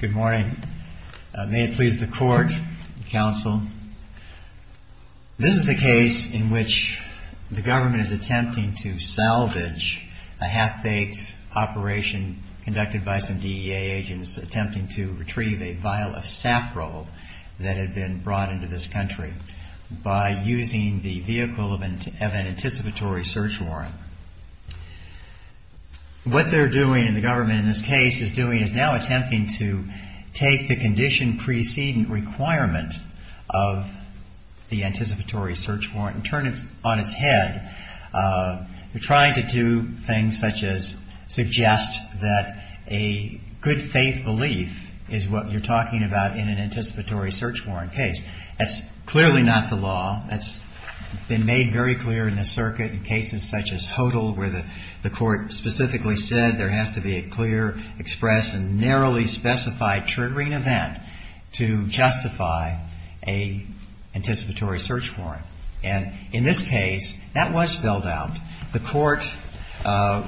This is a case in which the government is attempting to salvage a half-baked operation conducted by some DEA agents attempting to retrieve a vial of saffron that had been brought into this country by using the vehicle of an anticipatory search warrant. What they're doing, and the government in this case is doing, is now attempting to take the condition preceding requirement of the anticipatory search warrant and turn it on its head. They're trying to do things such as suggest that a good faith belief is what you're talking about in an anticipatory search warrant case. That's clearly not the law. That's been made very clear in the circuit in cases such as HODL, where the court specifically said there has to be a clear, expressed, and narrowly specified triggering event to justify an anticipatory search warrant. And in this case, that was spelled out. The court, the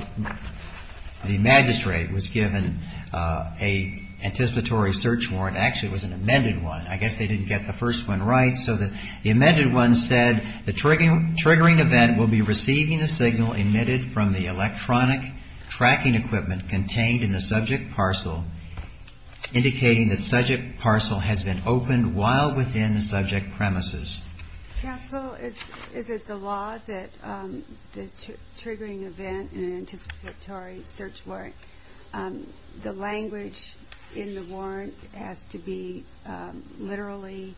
magistrate was given an anticipatory search warrant. Actually, it was an amended one. I guess they didn't get the first one right. So the amended one said, the triggering event will be receiving a signal emitted from the electronic tracking equipment contained in the subject parcel indicating that subject parcel has been opened while within the subject premises. Counsel, is it the law that the triggering event in an anticipatory search warrant, the language in the warrant has to be literally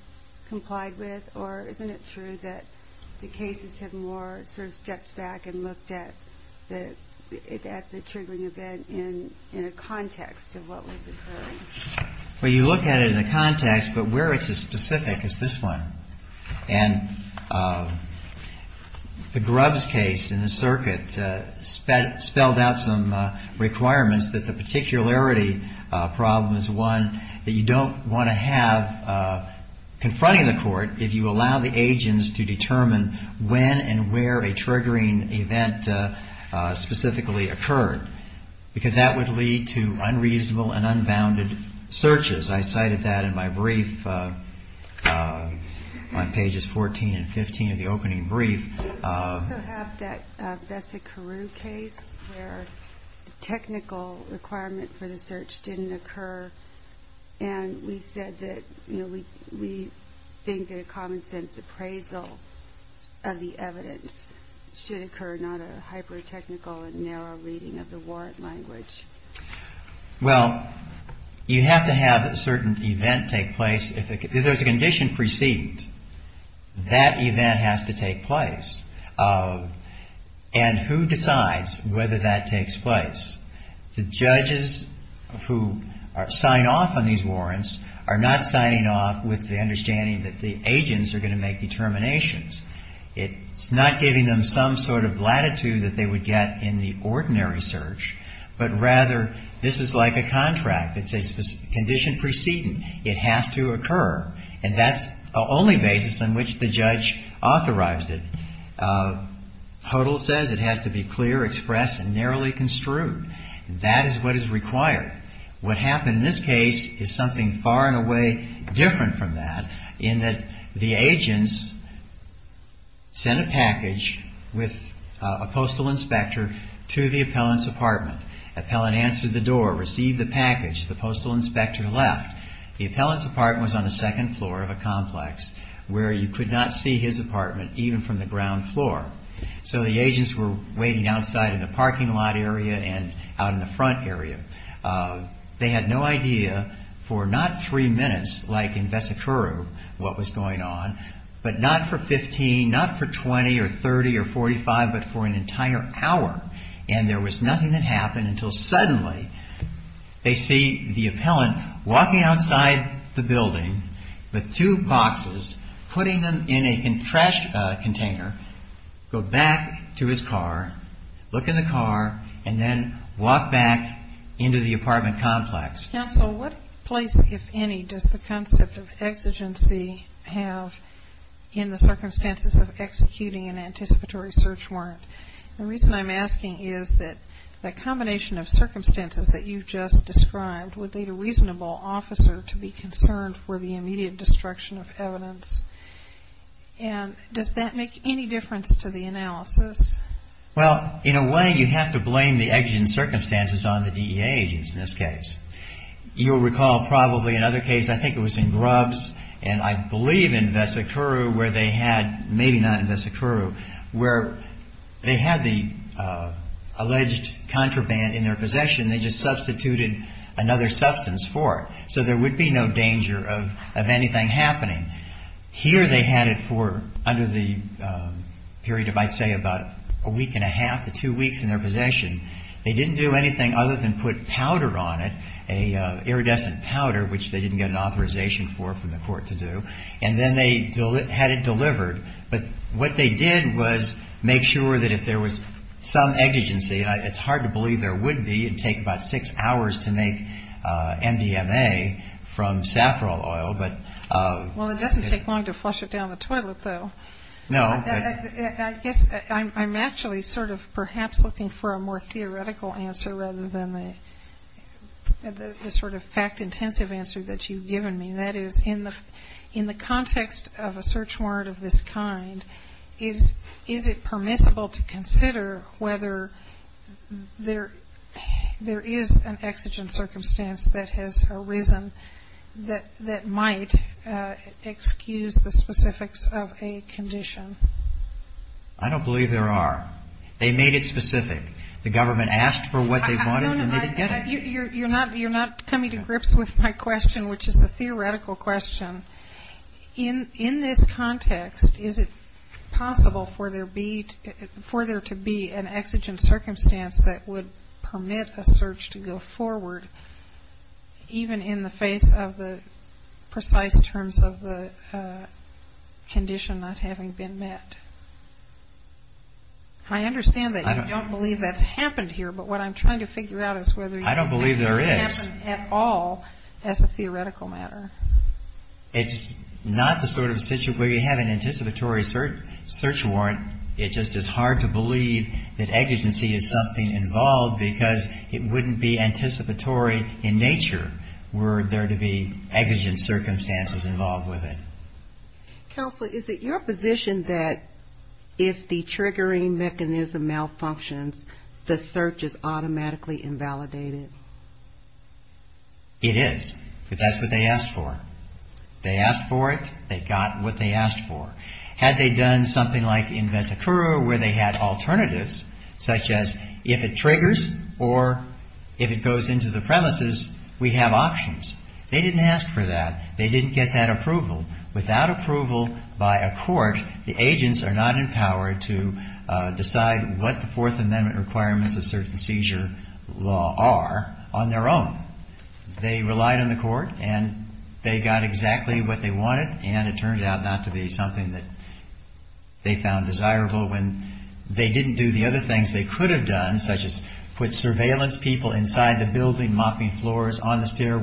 complied with? Or isn't it true that the cases have more sort of stepped back and looked at the triggering event in a context of what was occurring? Well, you look at it in a context, but where it's as specific as this one. And the Grubbs case in the circuit spelled out some requirements that the particularity problem is one that you don't want to have confronting the court if you allow the agents to determine when and where a triggering event specifically occurred, because that would lead to unreasonable and unbounded searches. I cited that in my brief on pages 14 and 15 of the opening brief. We also have that Bessie Carew case where technical requirement for the search didn't occur. And we said that, you know, we think that a common sense appraisal of the evidence should occur, not a hyper-technical and narrow reading of the warrant language. Well, you have to have a certain event take place. If there's a condition precedent, that event has to take place. And who decides whether that takes place? The judges who sign off on these warrants are not signing off with the understanding that the agents are going to make determinations. It's not giving them some sort of latitude that they would get in the ordinary search, but rather this is like a contract. It's a condition precedent. It has to occur. And that's the only basis on which the judge authorized it. HODL says it has to be clear, expressed, and narrowly construed. That is what is required. What happened in this case is something far and away different from that, in that the the appellant's apartment. The appellant answered the door, received the package. The postal inspector left. The appellant's apartment was on the second floor of a complex where you could not see his apartment, even from the ground floor. So the agents were waiting outside in the parking lot area and out in the front area. They had no idea for not three minutes, like in Vesikuru, what was going on, but not for 15, not for 20 or 30 or 45, but for an entire hour. And there was nothing that happened until suddenly they see the appellant walking outside the building with two boxes, putting them in a trash container, go back to his car, look in the car, and then walk back into the apartment complex. Counsel, what place, if any, does the concept of exigency have in the circumstances of executing an anticipatory search warrant? The reason I'm asking is that the combination of circumstances that you've just described would lead a reasonable officer to be concerned for the immediate destruction of evidence. And does that make any difference to the analysis? Well, in a way, you have to blame the exigent circumstances on the DEA agents in this case. You'll recall probably another case, I think it was in Grubbs, and I believe in Vesikuru where they had, maybe not in Vesikuru, where they had the alleged contraband in their possession and they just substituted another substance for it. So there would be no danger of anything happening. Here they had it for, under the period of, I'd say, about a week and a half to two weeks in their possession. They didn't do anything other than put powder on it, an iridescent powder, which they didn't get an authorization for from the court to do. And then they had it delivered. But what they did was make sure that if there was some exigency, and it's hard to believe there would be, it'd take about six hours to make MDMA from saffron oil, but... Well, it doesn't take long to flush it down the toilet, though. No. I guess I'm actually sort of perhaps looking for a more theoretical answer rather than the sort of fact-intensive answer that you've given me. That is, in the context of a search warrant of this kind, is it permissible to consider whether there is an exigent circumstance that has arisen that might excuse the specifics of a condition? I don't believe there are. They made it specific. The government asked for what they wanted and they didn't get it. You're not coming to grips with my question, which is the theoretical question. In this context, is it possible for there to be an exigent circumstance that would permit a search to go forward, even in the face of the precise terms of the condition not having been met? I understand that you don't believe that's happened here, but what I'm trying to figure out is whether you think it could happen at all as a theoretical matter. It's not the sort of situation where you have an anticipatory search warrant. It just is hard to believe that exigency is something involved because it wouldn't be anticipatory in nature were there to be exigent circumstances involved with it. Counselor, is it your position that if the triggering mechanism malfunctions, the search is automatically invalidated? It is, because that's what they asked for. They asked for it. They got what they asked for. Had they done something like in Vesicura where they had alternatives, such as if it triggers or if it goes into the premises, we have options. They didn't ask for that. They didn't get that approval. Without approval by a court, the agents are not empowered to decide what the Fourth Amendment requirements of search and seizure law are on their own. They relied on the court, and they got exactly what they wanted, and it turned out not to be something that they found desirable when they didn't do the other things they could have done, such as put surveillance people inside the building, mopping floors, on the floor.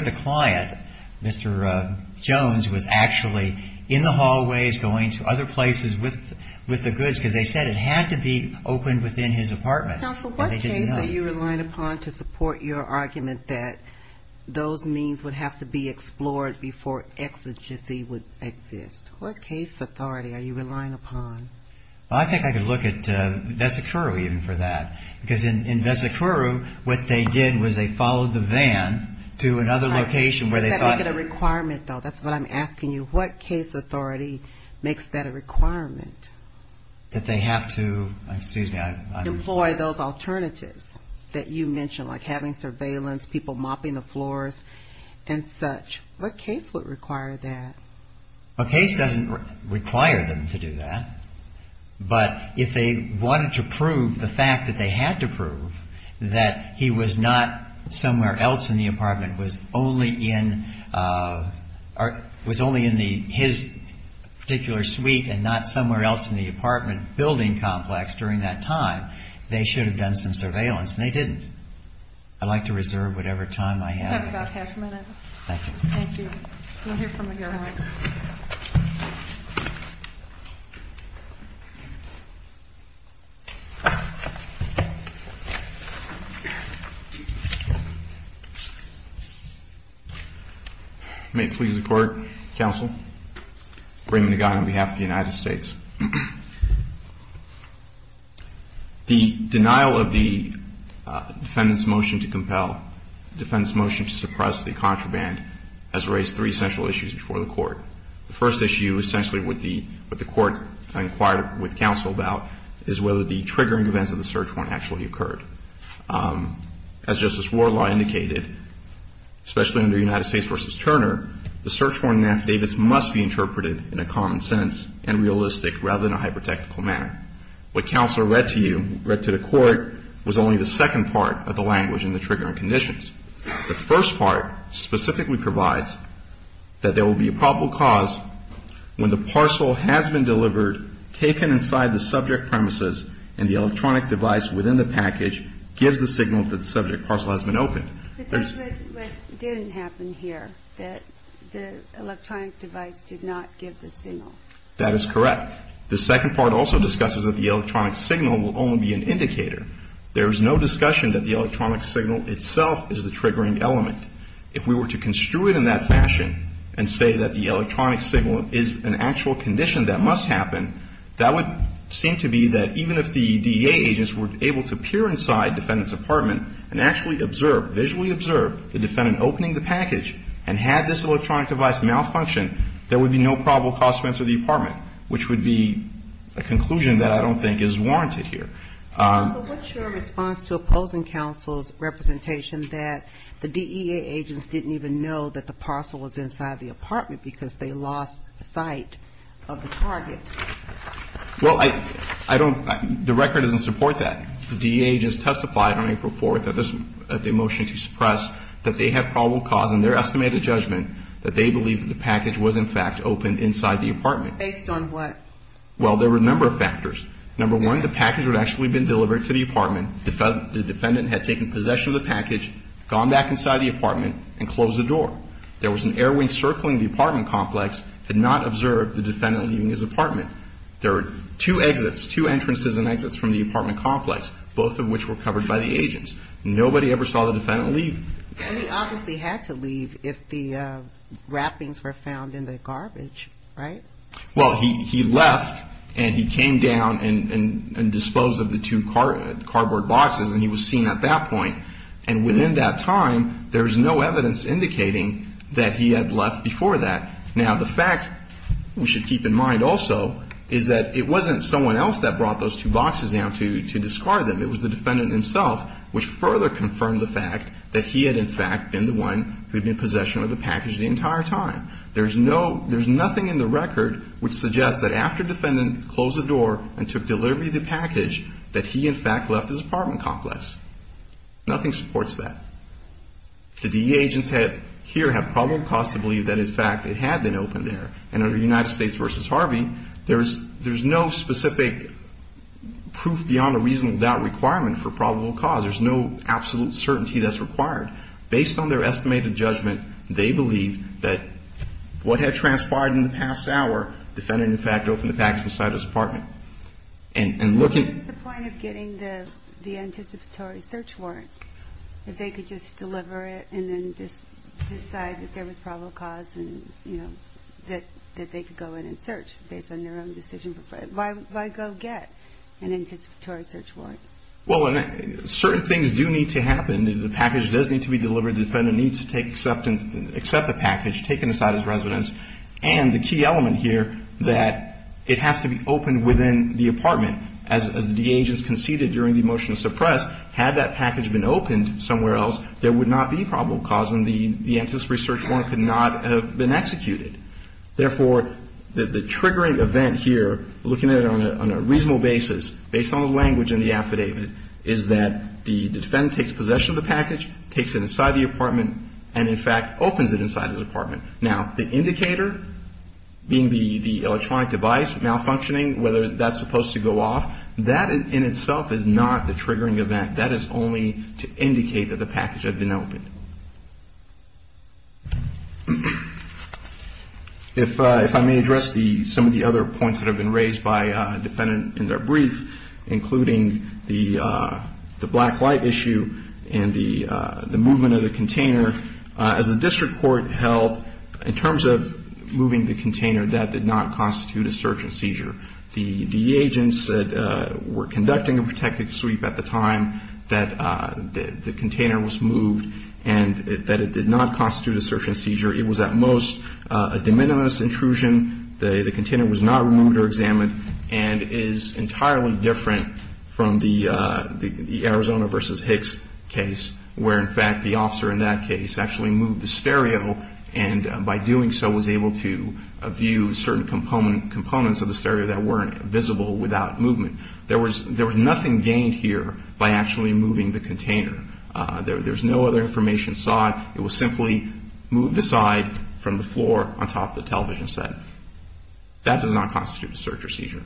The client, Mr. Jones, was actually in the hallways going to other places with the goods because they said it had to be opened within his apartment. Counsel, what case are you relying upon to support your argument that those means would have to be explored before exigency would exist? What case authority are you relying upon? I think I could look at Vesicura even for that, because in Vesicura, what they did was they followed the van to another location where they thought... You've got to make it a requirement, though. That's what I'm asking you. What case authority makes that a requirement that they have to employ those alternatives that you mentioned, like having surveillance, people mopping the floors, and such? What case would require that? A case doesn't require them to do that, but if they wanted to prove the fact that they somewhere else in the apartment was only in his particular suite and not somewhere else in the apartment building complex during that time, they should have done some surveillance. And they didn't. I'd like to reserve whatever time I have. We have about half a minute. May it please the Court, Counsel. Raymond Agon on behalf of the United States. The denial of the defendant's motion to compel, defendant's motion to suppress the contraband, has raised three central issues before the Court. The first issue, essentially, with the Court inquired with counsel about is whether the triggering events of the search warrant actually occurred. As Justice Wardlaw indicated, especially under United States v. Turner, the search warrant in the affidavits must be interpreted in a common sense and realistic rather than a hyper-technical manner. What counsel read to you, read to the Court, was only the second part of the language in the triggering conditions. The first part specifically provides that there will be a probable cause when the parcel has been delivered, taken inside the subject premises, and the electronic device within the package gives the signal that the subject parcel has been opened. But that's what didn't happen here, that the electronic device did not give the signal. That is correct. The second part also discusses that the electronic signal will only be an indicator. There is no discussion that the electronic signal itself is the triggering element. If we were to construe it in that fashion and say that the electronic signal is an actual condition that must happen, that would seem to be that even if the DEA agents were able to peer inside defendant's apartment and actually observe, visually observe, the defendant opening the package and had this electronic device malfunction, there would be no probable cause to enter the apartment, which would be a conclusion that I don't think is warranted here. Counsel, what's your response to opposing counsel's representation that the DEA agents didn't even know that the parcel was inside the apartment because they lost sight of the target? Well, I don't, the record doesn't support that. The DEA agents testified on April 4th at the motion to suppress that they had probable cause in their estimated judgment that they believed that the package was in fact opened inside the apartment. Based on what? Well, there were a number of factors. Number one, the package had actually been delivered to the apartment, the defendant had taken possession of the package, gone back inside the apartment and closed the door. There was an airway circling the apartment complex, had not observed the defendant leaving his apartment. There were two exits, two entrances and exits from the apartment complex, both of which were covered by the agents. Nobody ever saw the defendant leave. And he obviously had to leave if the wrappings were found in the garbage, right? Well, he left and he came down and disposed of the two cardboard boxes and he was seen at that point. And within that time, there was no evidence indicating that he had left before that. Now, the fact we should keep in mind also is that it wasn't someone else that brought those two boxes down to discard them. It was the defendant himself which further confirmed the fact that he had in fact been the one who had been in possession of the package the entire time. There's no, there's nothing in the record which suggests that after the defendant closed the door and took delivery of the package, that he in fact left his apartment complex. Nothing supports that. The DEA agents here have probable cause to believe that in fact it had been opened there. And under United States v. Harvey, there's no specific proof beyond a reasonable doubt requirement for probable cause. There's no absolute certainty that's required. Based on their estimated judgment, they believe that what had transpired in the past hour, the defendant in fact opened the package inside his apartment. What is the point of getting the anticipatory search warrant if they could just deliver it and then just decide that there was probable cause and, you know, that they could go in and search based on their own decision? Why go get an anticipatory search warrant? Well, certain things do need to happen. The package does need to be delivered. The defendant needs to take acceptance, accept the package, take it inside his residence. And the key element here that it has to be opened within the apartment. As the DEA agents conceded during the motion to suppress, had that package been opened somewhere else, there would not be probable cause and the anticipatory search warrant could not have been executed. Therefore, the triggering event here, looking at it on a reasonable basis, based on the language in the affidavit, is that the defendant takes possession of the package, takes it inside the apartment, and in fact opens it inside his apartment. Now, the indicator, being the electronic device malfunctioning, whether that's supposed to go off, that in itself is not the triggering event. That is only to indicate that the package had been opened. If I may address some of the other points that have been raised by the defendant in their brief, including the black light issue and the movement of the container. As the defendant said, in terms of moving the container, that did not constitute a search and seizure. The DEA agents said, were conducting a protected sweep at the time that the container was moved and that it did not constitute a search and seizure. It was at most a de minimis intrusion. The container was not removed or examined and is entirely different from the Arizona v. Hicks case, where in fact the officer in that case actually moved the stereo and by doing so was able to view certain components of the stereo that weren't visible without movement. There was nothing gained here by actually moving the container. There was no other information sought. It was simply moved aside from the floor on top of the television set. That does not constitute a search or seizure.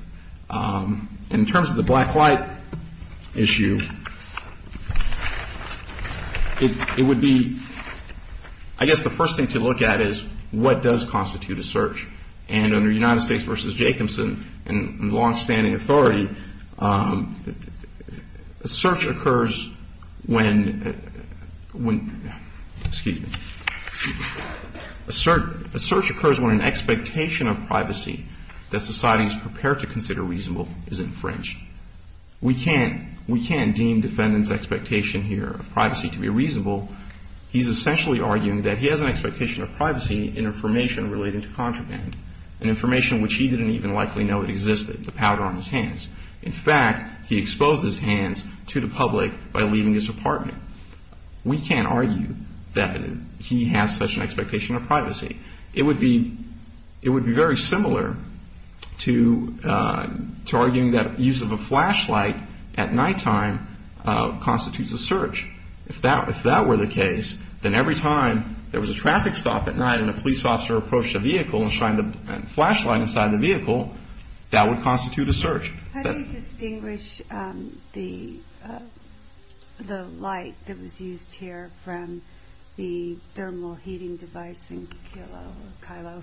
In terms of the black light issue, it would be, I guess the first thing I would say is the first thing to look at is what does constitute a search. And under United States v. Jacobson and longstanding authority, a search occurs when an expectation of privacy that society is prepared to consider reasonable is infringed. We can't deem defendant's expectation here of privacy to be reasonable. He's essentially arguing that he has an expectation of privacy in information relating to contraband, an information which he didn't even likely know existed, the powder on his hands. In fact, he exposed his hands to the public by leaving his apartment. We can't argue that he has such an expectation of privacy. It would be very similar to arguing that use of a flashlight at nighttime constitutes a search. If that were the case, then every time there was a traffic stop at night and a police officer approached a vehicle and shined a flashlight inside the vehicle, that would constitute a search. How do you distinguish the light that was used here from the thermal heating device in Kilo?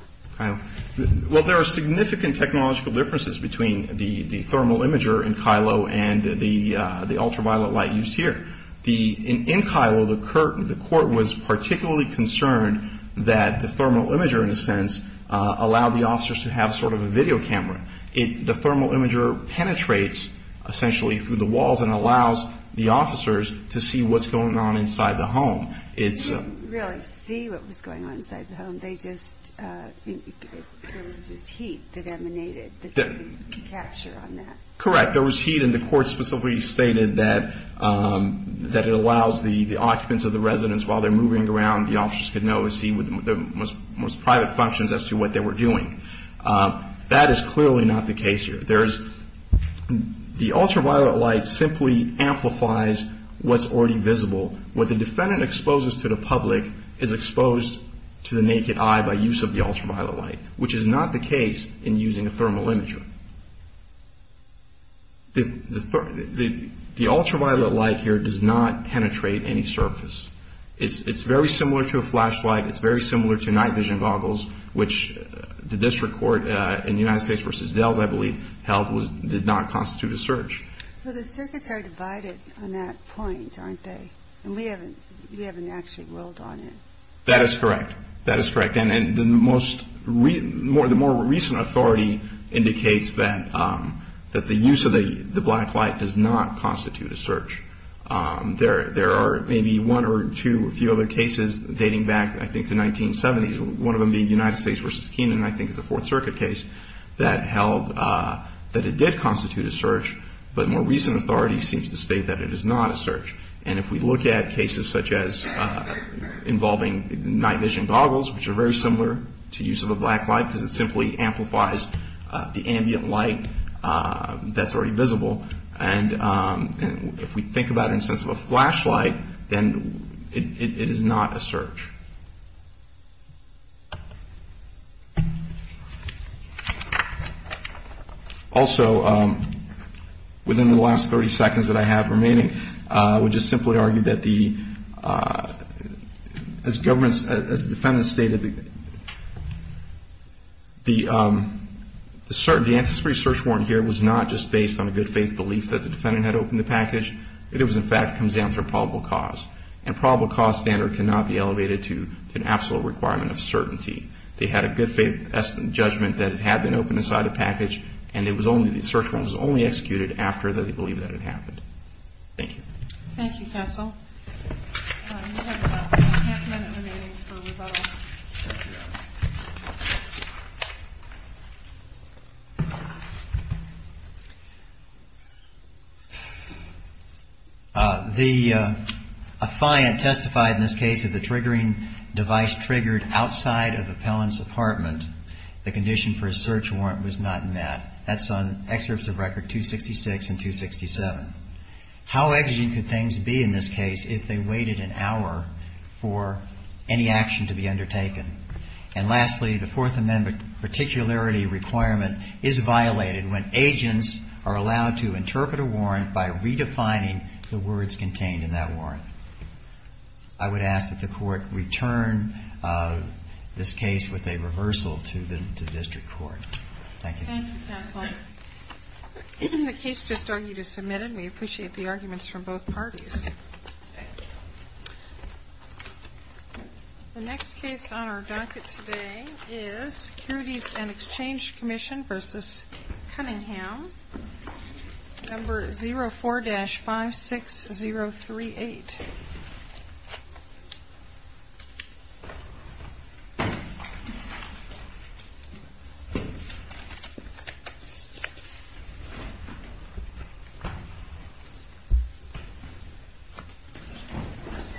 There are significant technological differences between the thermal imager in Kilo and the thermal imager in Kilo. In Kilo, the court was particularly concerned that the thermal imager, in a sense, allowed the officers to have sort of a video camera. The thermal imager penetrates essentially through the walls and allows the officers to see what's going on inside the home. They didn't really see what was going on inside the home. There was just heat that emanated that they could capture on that. Correct. There was heat and the court specifically stated that it allows the occupants of the residence, while they're moving around, the officers could know and see the most private functions as to what they were doing. That is clearly not the case here. The ultraviolet light simply amplifies what's already visible. What the defendant exposes to the public is exposed to the naked eye by use of the ultraviolet light, which is not the case in using a thermal imager. The ultraviolet light here does not penetrate any surface. It's very similar to a flashlight. It's very similar to night vision goggles, which the district court in the United States v. Dells, I believe, held did not constitute a search. The circuits are divided on that point, aren't they? We haven't actually rolled on it. That is correct. That is correct. The more recent authority indicates that the use of the black light does not constitute a search. There are maybe one or two or a few other cases dating back, I think, to the 1970s, one of them being the United States v. Kenan, I think it's a Fourth Circuit case, that held that it did constitute a search, but more recent authority seems to state that it is not a search. And if we look at cases such as involving night vision goggles, which are very similar to use of a black light because it simply amplifies the ambient light that's already visible, and if we think about it in the sense of a flashlight, then it is not a search. Also, within the last 30 seconds that I have remaining, I would just simply argue that the, as the defendant stated, the ancestry search warrant here was not just based on a good faith belief that the defendant had opened the package, it in fact comes down to probable cause. And probable cause standard cannot be elevated to an absolute requirement of certainty. They had a good faith judgment that it had been opened inside the package and the search warrant was only executed after they believed that it happened. Thank you. Thank you, counsel. We have about a half minute remaining for rebuttal. The, a client testified in this case that the triggering device triggered outside of the appellant's apartment. The condition for a search warrant was not met. That's on excerpts of record 266 and 267. How exigent could things be in this case if they waited an hour for any action to be undertaken? And lastly, the Fourth Amendment particularity requirement is violated when agents are allowed to interpret a warrant by redefining the words contained in that warrant. I would ask that the Court return this case with a reversal to the district court. Thank you. Thank you, counsel. The case just argued is submitted. We appreciate the arguments from both parties. The next case on our docket today is Securities and Exchange Commission v. Cunningham, number 04-56038.